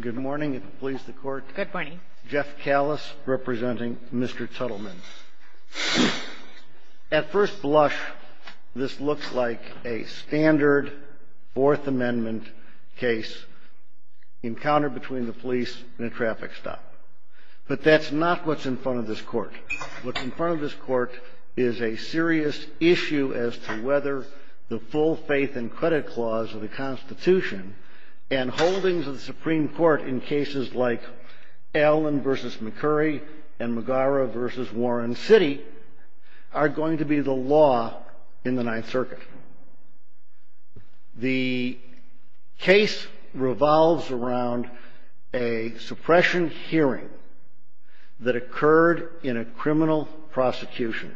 Good morning, if it pleases the court. Good morning. Jeff Callis, representing Mr. Tuttelman. At first blush, this looks like a standard Fourth Amendment case, encountered between the police and a traffic stop. But that's not what's in front of this court. What's in front of this court is a serious issue as to whether the full faith and credit clause of the Constitution and holdings of the Supreme Court in cases like Allen v. McCurry and Magara v. Warren City are going to be the law in the Ninth Circuit. The case revolves around a suppression hearing that occurred in a criminal prosecution.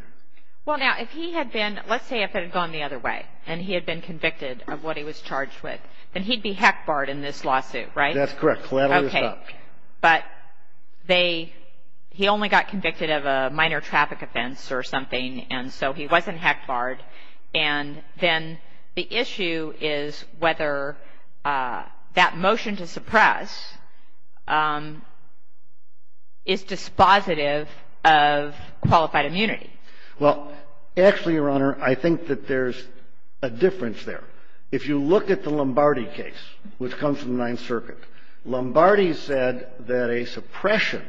Well, now, if he had been, let's say if it had gone the other way, and he had been convicted of what he was charged with, then he'd be heck barred in this lawsuit, right? That's correct. But they, he only got convicted of a minor traffic offense or something, and so he wasn't heck barred. And then the issue is whether that motion to suppress is dispositive of qualified immunity. Well, actually, Your Honor, I think that there's a difference there. If you look at the Lombardi case, which comes from the Ninth Circuit, Lombardi said that a suppression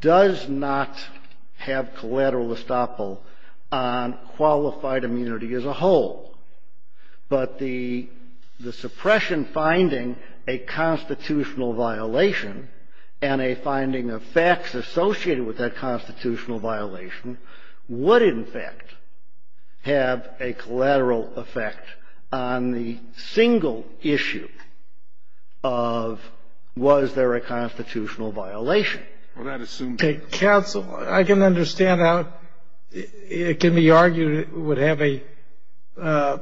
does not have collateral effect on a single estoppel on qualified immunity as a whole. But the suppression finding a constitutional violation and a finding of facts associated with that constitutional violation would, in fact, have a collateral effect on the single issue of was there a constitutional violation. Counsel, I can understand how it can be argued it would have an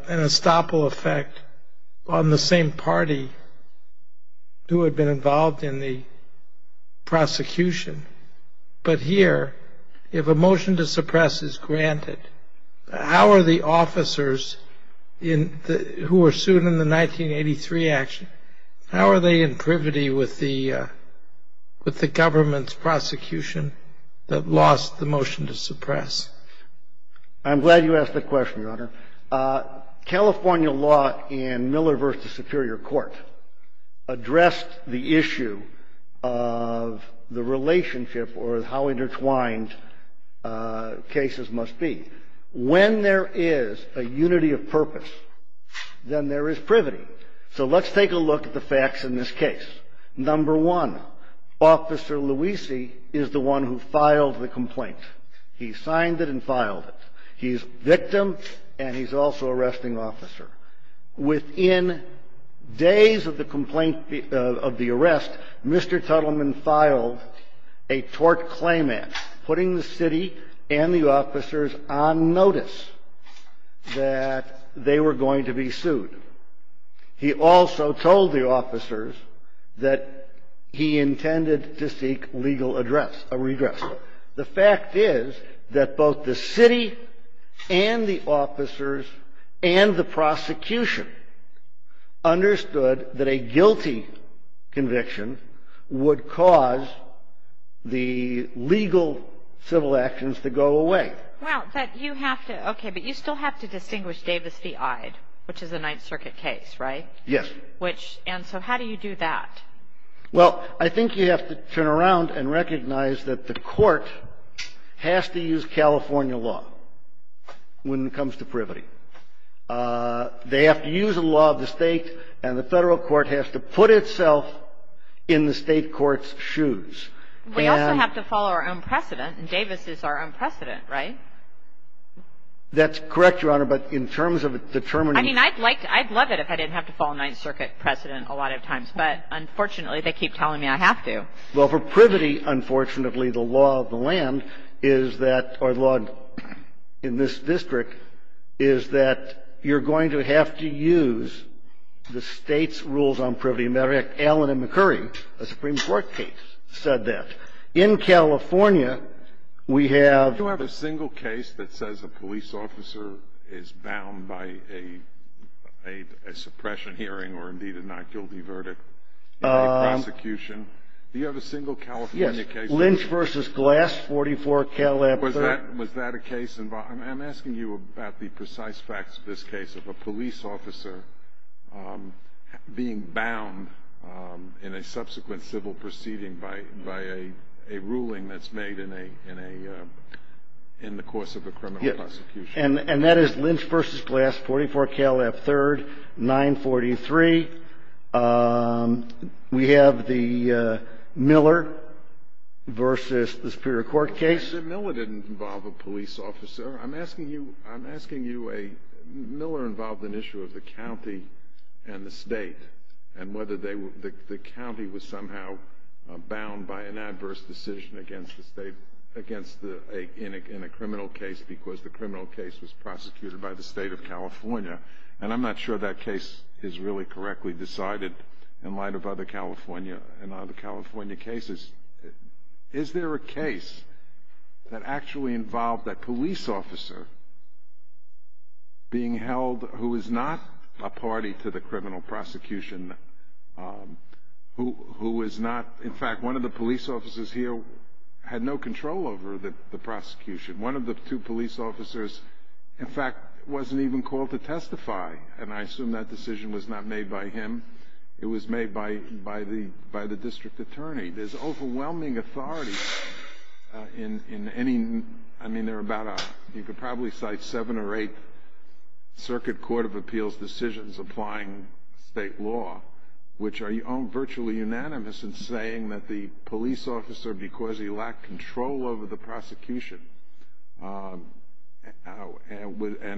estoppel effect on the same party who had been involved in the prosecution. But here, if a motion to suppress is granted, how are the officers who were sued in the 1983 action, how are they in privity with the government's prosecution that lost the motion to suppress? I'm glad you asked that question, Your Honor. California law in Miller v. Superior Court addressed the issue of the relationship or how intertwined cases must be. When there is a unity of purpose, then there is privity. So let's take a look at the facts in this case. Number one, Officer Luisi is the one who filed the complaint. He signed it and filed it. He's victim and he's also arresting officer. Within days of the arrest, Mr. Tuttleman filed a tort claimant, putting the city and the officers on notice that they were going to be sued. He also told the officers that he intended to seek legal address, a redress. The fact is that both the city and the officers and the prosecution understood that a guilty conviction would cause the legal civil actions to go away. Now, you have to – okay, but you still have to distinguish Davis v. Ide, which is a Ninth Circuit case, right? Yes. Which – and so how do you do that? Well, I think you have to turn around and recognize that the court has to use California law when it comes to privity. They have to use the law of the state and the federal court has to put itself in the state court's shoes. We also have to follow our own precedent, and Davis is our own precedent, right? That's correct, Your Honor, but in terms of determining – I mean, I'd like to – I'd love it if I didn't have to follow Ninth Circuit precedent a lot of times, but unfortunately, they keep telling me I have to. Well, for privity, unfortunately, the law of the land is that – or the law in this district is that you're going to have to use the state's rules on privity. As a matter of fact, Alan and McCurry, a Supreme Court case, said that. In California, we have – Do you have a single case that says a police officer is bound by a suppression hearing or, indeed, a not guilty verdict in a prosecution? Do you have a single California case – Yes, Lynch v. Glass, 44 Cadillac Third. Was that a case – I'm asking you about the precise facts of this case of a police officer being bound in a subsequent civil proceeding by a ruling that's made in a – in the course of a criminal prosecution. And that is Lynch v. Glass, 44 Cadillac Third, 943. We have the Miller v. the Superior Court case. Mr. Miller didn't involve a police officer. I'm asking you a – Miller involved an issue of the county and the state and whether they were – the county was somehow bound by an adverse decision against the state – against the – in a criminal case because the criminal case was prosecuted by the state of California. And I'm not sure that case is really correctly decided in light of other California – in other California cases. Is there a case that actually involved a police officer being held who is not a party to the criminal prosecution, who is not – in fact, one of the police officers here had no control over the prosecution. One of the two police officers, in fact, wasn't even called to testify, and I assume that decision was not made by him. It was made by the – by the district attorney. There's overwhelming authority in any – I mean, there are about a – you could probably cite seven or eight circuit court of appeals decisions applying state law, which are virtually unanimous in saying that the police officer, because he lacked control over the prosecution and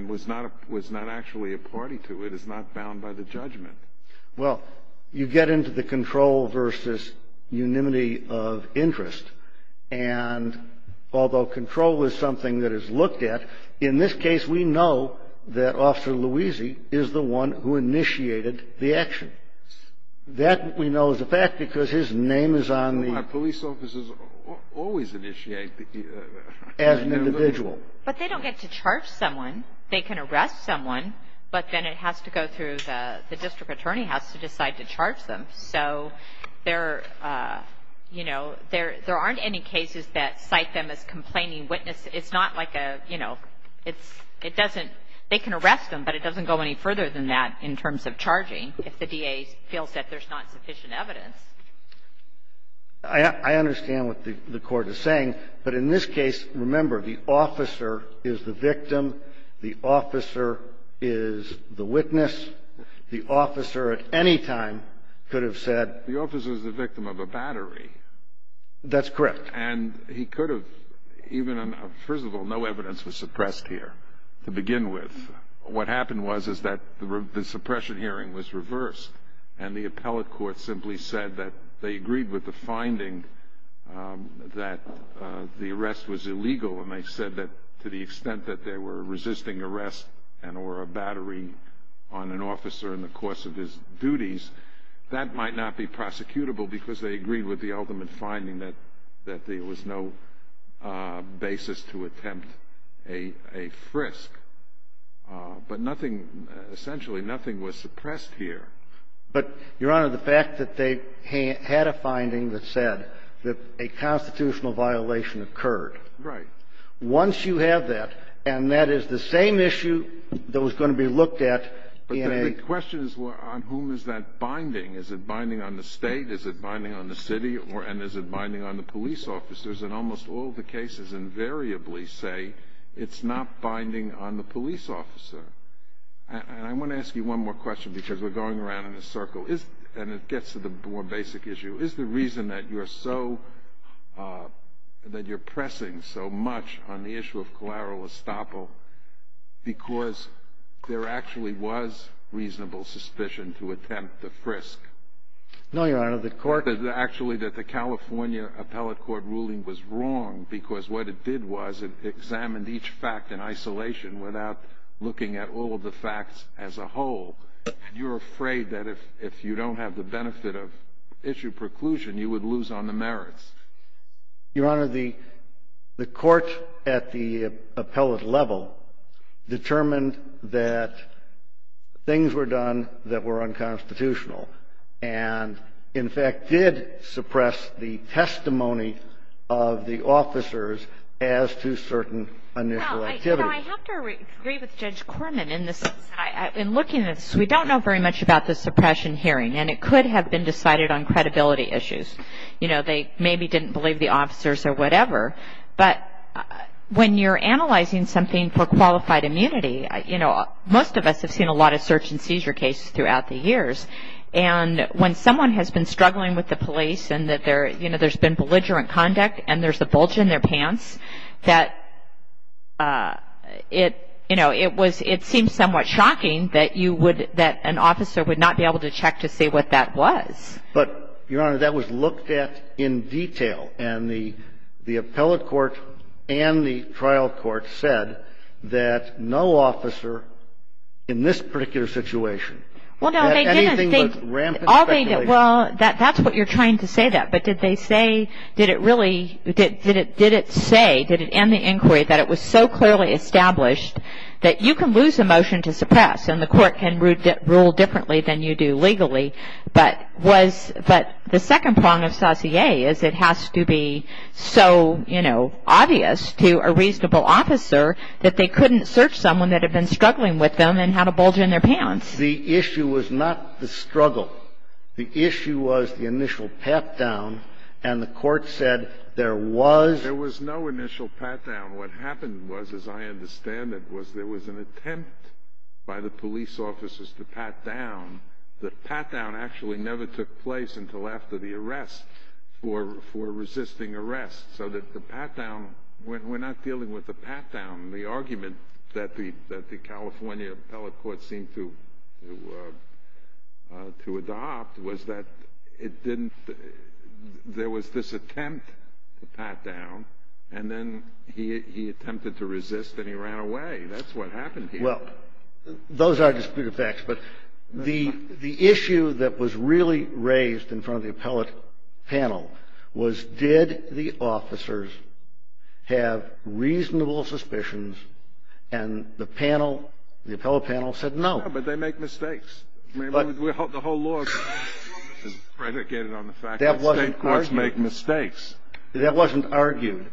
was not actually a party to it, is not bound by the judgment. Well, you get into the control versus unanimity of interest, and although control is something that is looked at, in this case, we know that Officer Louisi is the one who initiated the action. That we know is a fact because his name is on the – Well, my police officers always initiate the – As an individual. But they don't get to charge someone. They can arrest someone, but then it has to go through the district attorney house to decide to charge them. So there, you know, there aren't any cases that cite them as complaining witnesses. It's not like a, you know, it's – it doesn't – they can arrest them, but it doesn't go any further than that in terms of charging if the DA feels that there's not sufficient evidence. I understand what the Court is saying, but in this case, remember, the officer is the victim, the officer is the witness. The officer at any time could have said – The officer is the victim of a battery. That's correct. And he could have even – first of all, no evidence was suppressed here to begin with. What happened was is that the suppression hearing was reversed. And the appellate court simply said that they agreed with the finding that the arrest was illegal. And they said that to the extent that they were resisting arrest and or a battery on an officer in the course of his duties, that might not be prosecutable because they agreed with the ultimate finding that there was no basis to attempt a frisk. But nothing – essentially, nothing was suppressed here. But, Your Honor, the fact that they had a finding that said that a constitutional violation occurred. Right. Once you have that, and that is the same issue that was going to be looked at in a – The question is on whom is that binding? Is it binding on the state? Is it binding on the city? And is it binding on the police officers? And almost all the cases invariably say it's not binding on the police officer. And I want to ask you one more question because we're going around in a circle. And it gets to the more basic issue. Is the reason that you're so – that you're pressing so much on the issue of collateral estoppel because there actually was reasonable suspicion to attempt the frisk? No, Your Honor. The court – Actually, that the California appellate court ruling was wrong because what it did was it examined each fact in isolation without looking at all of the facts as a whole. And you're afraid that if you don't have the benefit of issue preclusion, you would lose on the merits. Your Honor, the court at the appellate level determined that things were done that were unconstitutional and, in fact, did suppress the testimony of the officers as to certain initial activities. You know, I have to agree with Judge Corman in this. In looking at this, we don't know very much about the suppression hearing. And it could have been decided on credibility issues. You know, they maybe didn't believe the officers or whatever. But when you're analyzing something for qualified immunity, you know, most of us have seen a lot of search and seizure cases throughout the years. And when someone has been struggling with the police and that there – you know, there's been belligerent conduct and there's a bulge in their pants, that it – you know, it was – it seems somewhat shocking that you would – that an officer would not be able to check to see what that was. But, Your Honor, that was looked at in detail. And the appellate court and the trial court said that no officer in this particular situation had anything but rampant speculation. Well, that's what you're trying to say there. But did they say – did it really – did it say, did it end the inquiry that it was so clearly established that you can lose a motion to suppress and the court can rule differently than you do legally, but was – but the second prong of saussure is it has to be so, you know, obvious to a reasonable officer that they couldn't search someone that had been struggling with them and had a bulge in their pants. The issue was not the struggle. The issue was the initial pat-down, and the court said there was – There was no initial pat-down. What happened was, as I understand it, was there was an attempt by the police officers to pat down. The pat-down actually never took place until after the arrest for resisting arrest. So that the pat-down – we're not dealing with a pat-down. The argument that the California appellate court seemed to adopt was that it didn't – there was this attempt to pat down, and then he attempted to resist and he ran away. That's what happened here. Well, those are disputed facts, but the issue that was really raised in front of the appellate panel was, did the officers have reasonable suspicions, and the panel – the appellate panel said no. Yeah, but they make mistakes. The whole law is predicated on the fact that state courts make mistakes. That wasn't argued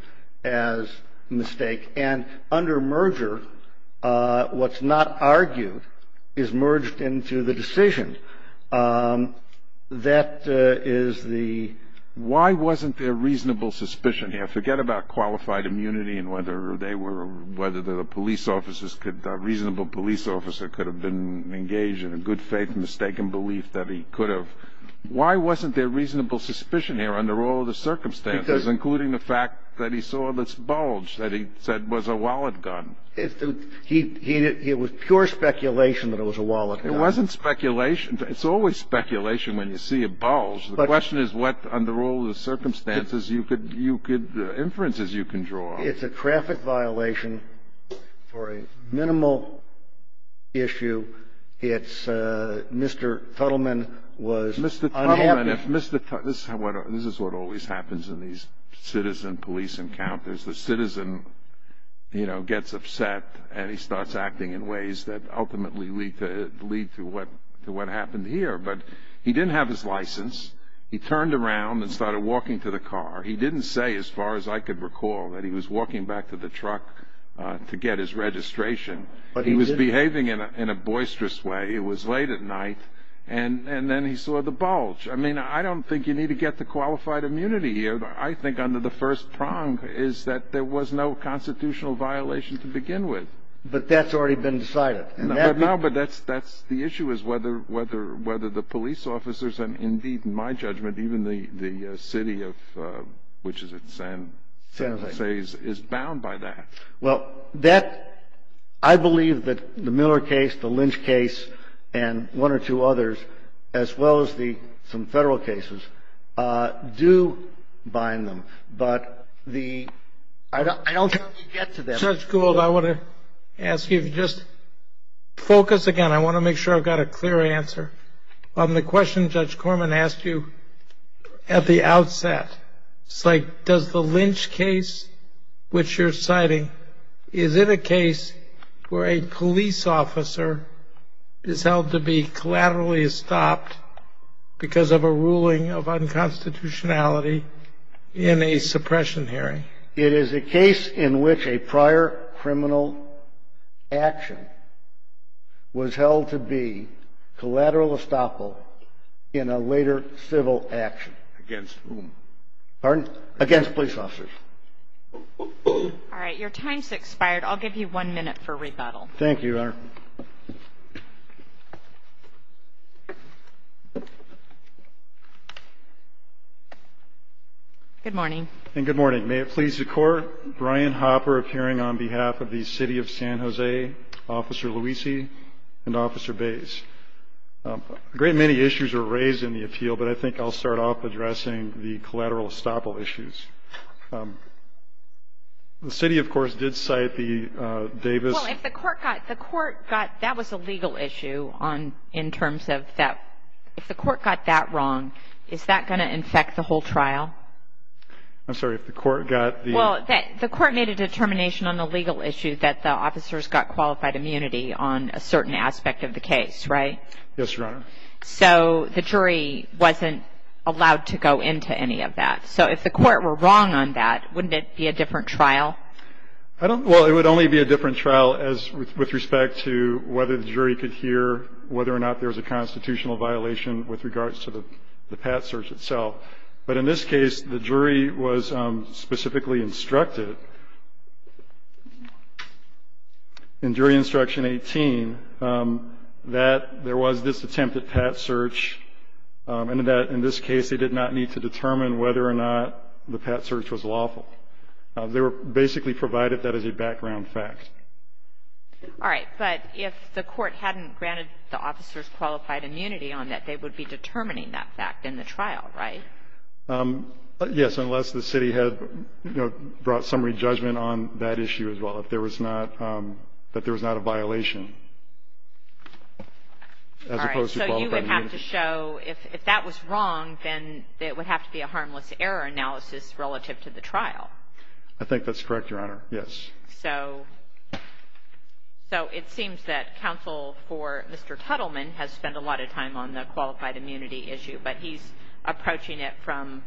as a mistake, and under merger, what's not argued is merged into the decision. That is the – Why wasn't there reasonable suspicion here? Forget about qualified immunity and whether they were – whether the police officers could – a reasonable police officer could have been engaged in a good-faith mistaken belief that he could have. Why wasn't there reasonable suspicion here under all the circumstances, including the fact that he saw this bulge that he said was a wallet gun? It was pure speculation that it was a wallet gun. It wasn't speculation. It's always speculation when you see a bulge. The question is what, under all the circumstances, you could – inferences you can draw. It's a traffic violation for a minimal issue. It's Mr. Tuttleman was unhappy. Mr. Tuttleman, if Mr. – this is what always happens in these citizen police encounters. The citizen gets upset, and he starts acting in ways that ultimately lead to what happened here. But he didn't have his license. He turned around and started walking to the car. He didn't say, as far as I could recall, that he was walking back to the truck to get his registration. He was behaving in a boisterous way. It was late at night, and then he saw the bulge. I mean, I don't think you need to get the qualified immunity here. I think under the first prong is that there was no constitutional violation to begin with. But that's already been decided. No, but that's – the issue is whether the police officers and, indeed, in my judgment, even the city of – which is it? San Jose. San Jose is bound by that. Well, that – I believe that the Miller case, the Lynch case, and one or two others, as well as the – some federal cases, do bind them. But the – I don't think you get to them. Judge Gould, I want to ask you if you just – focus again. I want to make sure I've got a clear answer. On the question Judge Corman asked you at the outset, it's like, does the Lynch case, which you're citing, is it a case where a police officer is held to be collaterally stopped because of a ruling of unconstitutionality in a suppression hearing? It is a case in which a prior criminal action was held to be collateral estoppel in a later civil action. Against whom? Pardon? Against police officers. All right. Your time's expired. I'll give you one minute for rebuttal. Thank you, Your Honor. Good morning. And good morning. May it please the Court, Brian Hopper appearing on behalf of the city of San Jose, Officer Luisi, and Officer Bays. A great many issues were raised in the appeal, but I think I'll start off addressing the collateral estoppel issues. The city, of course, did cite the Davis – I'm sorry, if the court got the – Well, the court made a determination on the legal issue that the officers got qualified immunity on a certain aspect of the case, right? Yes, Your Honor. So the jury wasn't allowed to go into any of that. So if the court were wrong on that, wouldn't it be a different trial? Well, it would only be a different trial with respect to whether the jury could hear whether or not there was a constitutional violation with regards to the Pat search itself. But in this case, the jury was specifically instructed in jury instruction 18 that there was this attempt at Pat search, and that in this case they did not need to determine whether or not the Pat search was lawful. They were basically provided that as a background fact. All right. But if the court hadn't granted the officers qualified immunity on that, they would be determining that fact in the trial, right? Yes, unless the city had brought summary judgment on that issue as well, that there was not a violation as opposed to qualified immunity. All right. So you would have to show – if that was wrong, then it would have to be a harmless error analysis relative to the trial. I think that's correct, Your Honor. Yes. So it seems that counsel for Mr. Tuttleman has spent a lot of time on the qualified immunity issue, but he's approaching it from,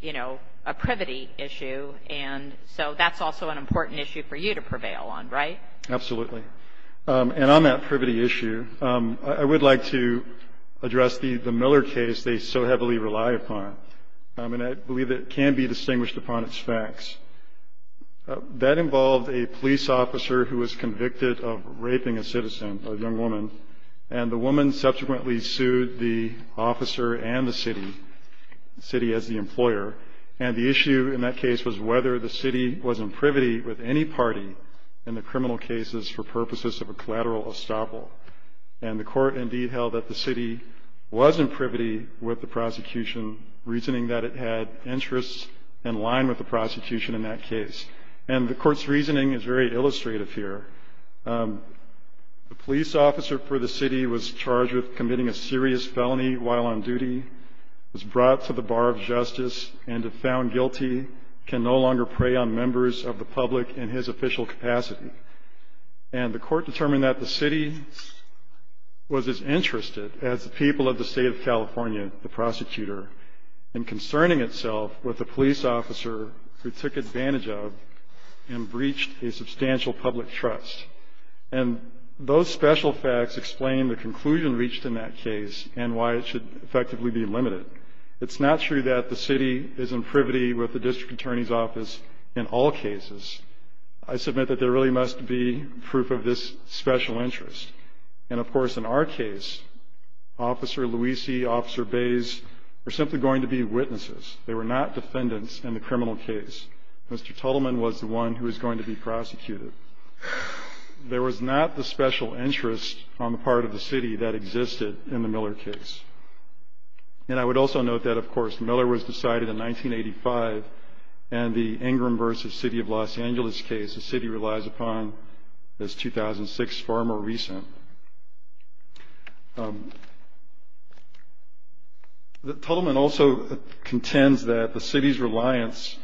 you know, a privity issue. And so that's also an important issue for you to prevail on, right? Absolutely. And on that privity issue, I would like to address the Miller case they so heavily rely upon. And I believe it can be distinguished upon its facts. That involved a police officer who was convicted of raping a citizen, a young woman, and the woman subsequently sued the officer and the city, the city as the employer. And the issue in that case was whether the city was in privity with any party in the criminal cases for purposes of a collateral estoppel. And the court indeed held that the city was in privity with the prosecution, reasoning that it had interests in line with the prosecution in that case. And the court's reasoning is very illustrative here. The police officer for the city was charged with committing a serious felony while on duty, was brought to the bar of justice, and if found guilty, can no longer prey on members of the public in his official capacity. And the court determined that the city was as interested as the people of the state of California, the prosecutor, in concerning itself with a police officer who took advantage of and breached a substantial public trust. And those special facts explain the conclusion reached in that case and why it should effectively be limited. It's not true that the city is in privity with the district attorney's office in all cases. I submit that there really must be proof of this special interest. And, of course, in our case, Officer Luisi, Officer Bays were simply going to be witnesses. They were not defendants in the criminal case. Mr. Tuttleman was the one who was going to be prosecuted. There was not the special interest on the part of the city that existed in the Miller case. And I would also note that, of course, Miller was decided in 1985, and the Ingram v. City of Los Angeles case the city relies upon is 2006, far more recent. Tuttleman also contends that the city's reliance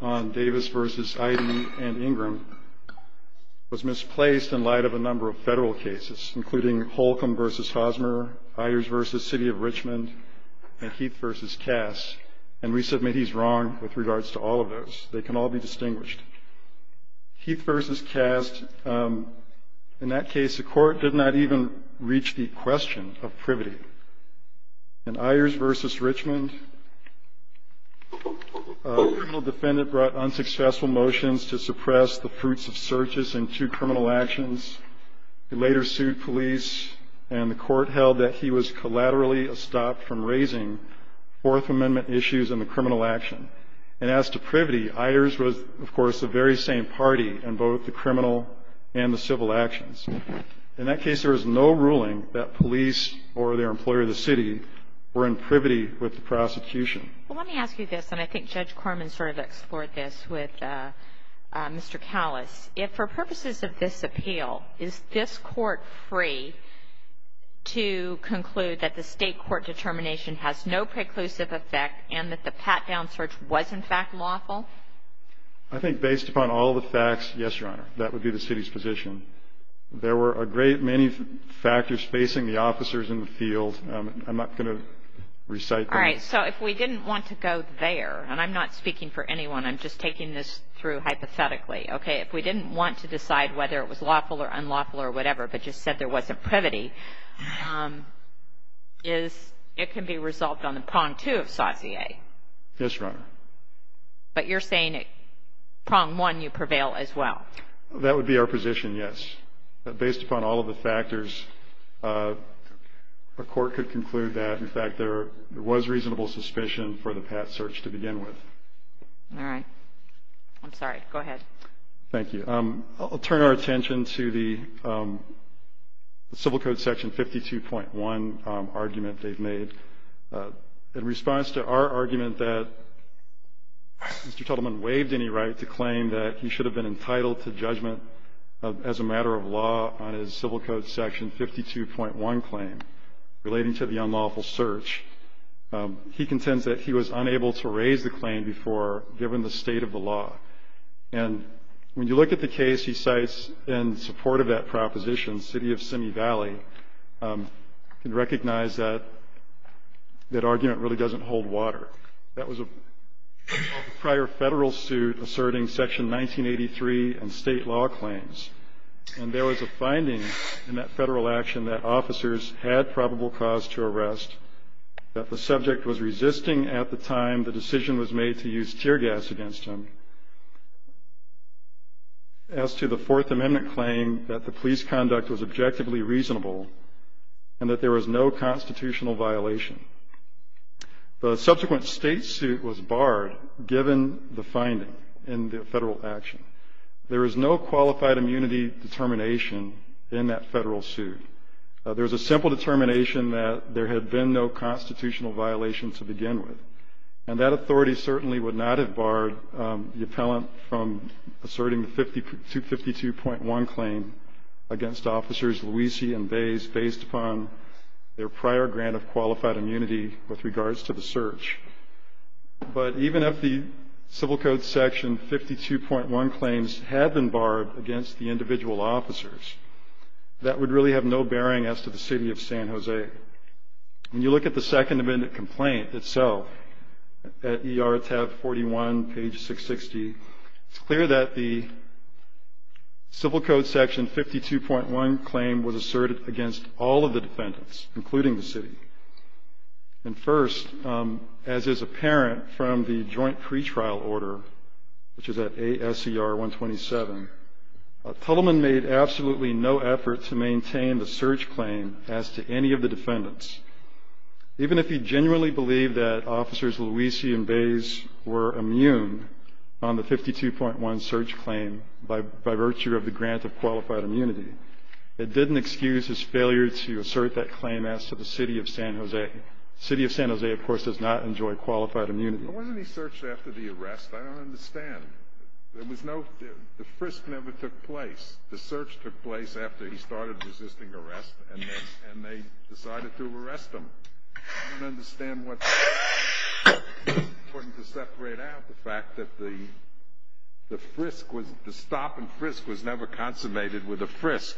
on Davis v. Ida and Ingram was misplaced in light of a number of federal cases, including Holcomb v. Hosmer, Ayers v. City of Richmond, and Heath v. Cass. And we submit he's wrong with regards to all of those. They can all be distinguished. Heath v. Cass, in that case, the court did not even reach the question of privity. In Ayers v. Richmond, a criminal defendant brought unsuccessful motions to suppress the fruits of searches and two criminal actions. He later sued police, and the court held that he was collaterally stopped from raising Fourth Amendment issues in the criminal action. And as to privity, Ayers was, of course, the very same party in both the criminal and the civil actions. In that case, there was no ruling that police or their employer of the city were in privity with the prosecution. Well, let me ask you this, and I think Judge Corman sort of explored this with Mr. Callis. If for purposes of this appeal, is this court free to conclude that the state court determination has no preclusive effect and that the pat-down search was, in fact, lawful? I think based upon all the facts, yes, Your Honor, that would be the city's position. There were a great many factors facing the officers in the field. I'm not going to recite them. All right. So if we didn't want to go there, and I'm not speaking for anyone. I'm just taking this through hypothetically. Okay? If we didn't want to decide whether it was lawful or unlawful or whatever, but just said there wasn't privity, it can be resolved on the prong two of saussure. Yes, Your Honor. But you're saying prong one, you prevail as well. That would be our position, yes. Based upon all of the factors, a court could conclude that, in fact, there was reasonable suspicion for the pat search to begin with. All right. I'm sorry. Go ahead. Thank you. I'll turn our attention to the Civil Code Section 52.1 argument they've made. In response to our argument that Mr. Tuttleman waived any right to claim that he should have been entitled to judgment as a matter of law on his Civil Code Section 52.1 claim relating to the unlawful search, he contends that he was unable to raise the claim before, given the state of the law. And when you look at the case he cites in support of that proposition, City of Simi Valley, you can recognize that that argument really doesn't hold water. That was a prior federal suit asserting Section 1983 and state law claims. And there was a finding in that federal action that officers had probable cause to arrest, that the subject was resisting at the time the decision was made to use tear gas against him, as to the Fourth Amendment claim that the police conduct was objectively reasonable and that there was no constitutional violation. The subsequent state suit was barred, given the finding in the federal action. There is no qualified immunity determination in that federal suit. There's a simple determination that there had been no constitutional violation to begin with. And that authority certainly would not have barred the appellant from asserting the 52.1 claim against officers based upon their prior grant of qualified immunity with regards to the search. But even if the Civil Code Section 52.1 claims had been barred against the individual officers, that would really have no bearing as to the City of San Jose. When you look at the Second Amendment complaint itself, at ER tab 41, page 660, it's clear that the Civil Code Section 52.1 claim was asserted against all of the defendants, including the city. And first, as is apparent from the joint pretrial order, which is at ASER 127, Tuttleman made absolutely no effort to maintain the search claim as to any of the defendants. Even if he genuinely believed that Officers Luisi and Bays were immune on the 52.1 search claim by virtue of the grant of qualified immunity, it didn't excuse his failure to assert that claim as to the City of San Jose. The City of San Jose, of course, does not enjoy qualified immunity. But wasn't he searched after the arrest? I don't understand. There was no – the frisk never took place. The search took place after he started resisting arrest, and they decided to arrest him. I don't understand what – it's important to separate out the fact that the frisk was – the stop and frisk was never consummated with a frisk.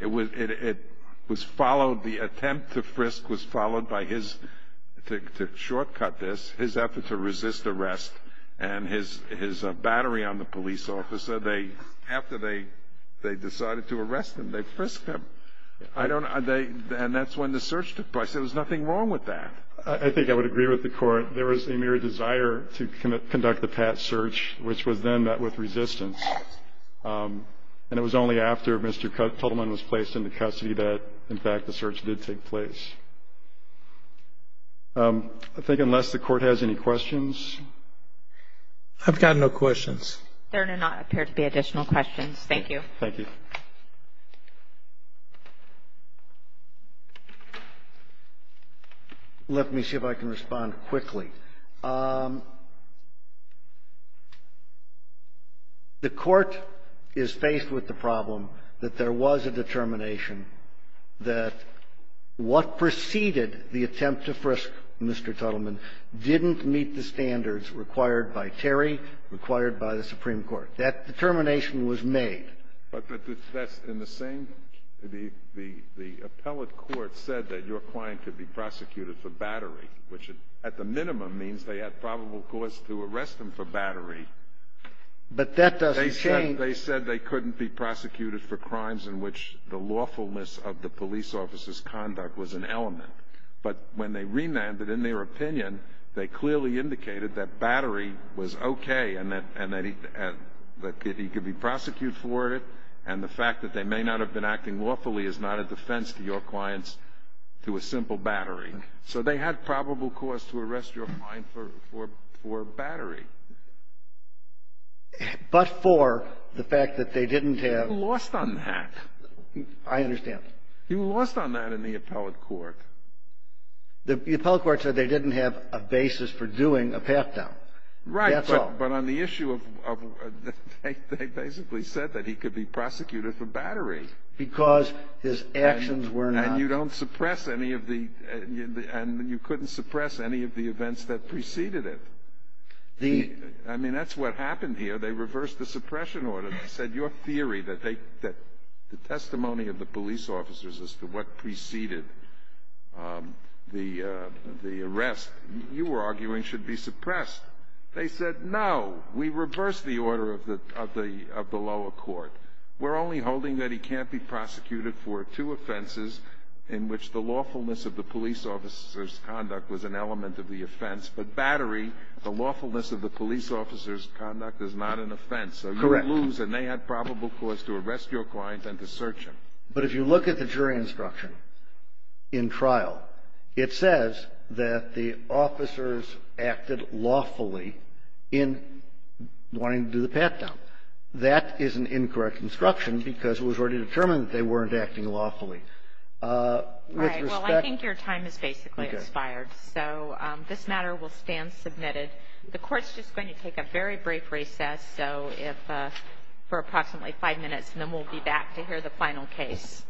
It was followed – the attempt to frisk was followed by his – to shortcut this – his effort to resist arrest and his battery on the police officer. So they – after they decided to arrest him, they frisked him. I don't – they – and that's when the search took place. There was nothing wrong with that. I think I would agree with the Court. There was a mere desire to conduct the pat search, which was then met with resistance. And it was only after Mr. Tuttleman was placed into custody that, in fact, the search did take place. I think unless the Court has any questions. I've got no questions. There do not appear to be additional questions. Thank you. Thank you. Let me see if I can respond quickly. The Court is faced with the problem that there was a determination that what preceded the attempt to frisk Mr. Tuttleman was a crime committed by the Supreme Court. That determination was made. But that's in the same – the appellate court said that your client could be prosecuted for battery, which at the minimum means they had probable cause to arrest him for battery. But that doesn't change. They said they couldn't be prosecuted for crimes in which the lawfulness of the police officer's conduct was an element. But when they remanded in their opinion, they clearly indicated that battery was okay and that he could be prosecuted for it. And the fact that they may not have been acting lawfully is not a defense to your client's – to a simple battery. So they had probable cause to arrest your client for battery. But for the fact that they didn't have – He lost on that. I understand. He lost on that in the appellate court. The appellate court said they didn't have a basis for doing a pat-down. Right. That's all. But on the issue of – they basically said that he could be prosecuted for battery. Because his actions were not – And you don't suppress any of the – and you couldn't suppress any of the events that preceded it. The – I mean, that's what happened here. They reversed the suppression order. They said your theory that they – that the testimony of the police officers as to what preceded the arrest you were arguing should be suppressed. They said, no, we reversed the order of the lower court. We're only holding that he can't be prosecuted for two offenses in which the lawfulness of the police officer's conduct was an element of the offense. But battery, the lawfulness of the police officer's conduct, is not an offense. Correct. So you lose, and they had probable cause to arrest your client and to search him. But if you look at the jury instruction in trial, it says that the officers acted lawfully in wanting to do the pat-down. That is an incorrect instruction because it was already determined that they weren't acting lawfully. With respect – Right. Well, I think your time has basically expired. Okay. So this matter will stand submitted. The court's just going to take a very brief recess, so if – for approximately five minutes, and then we'll be back to hear the final case.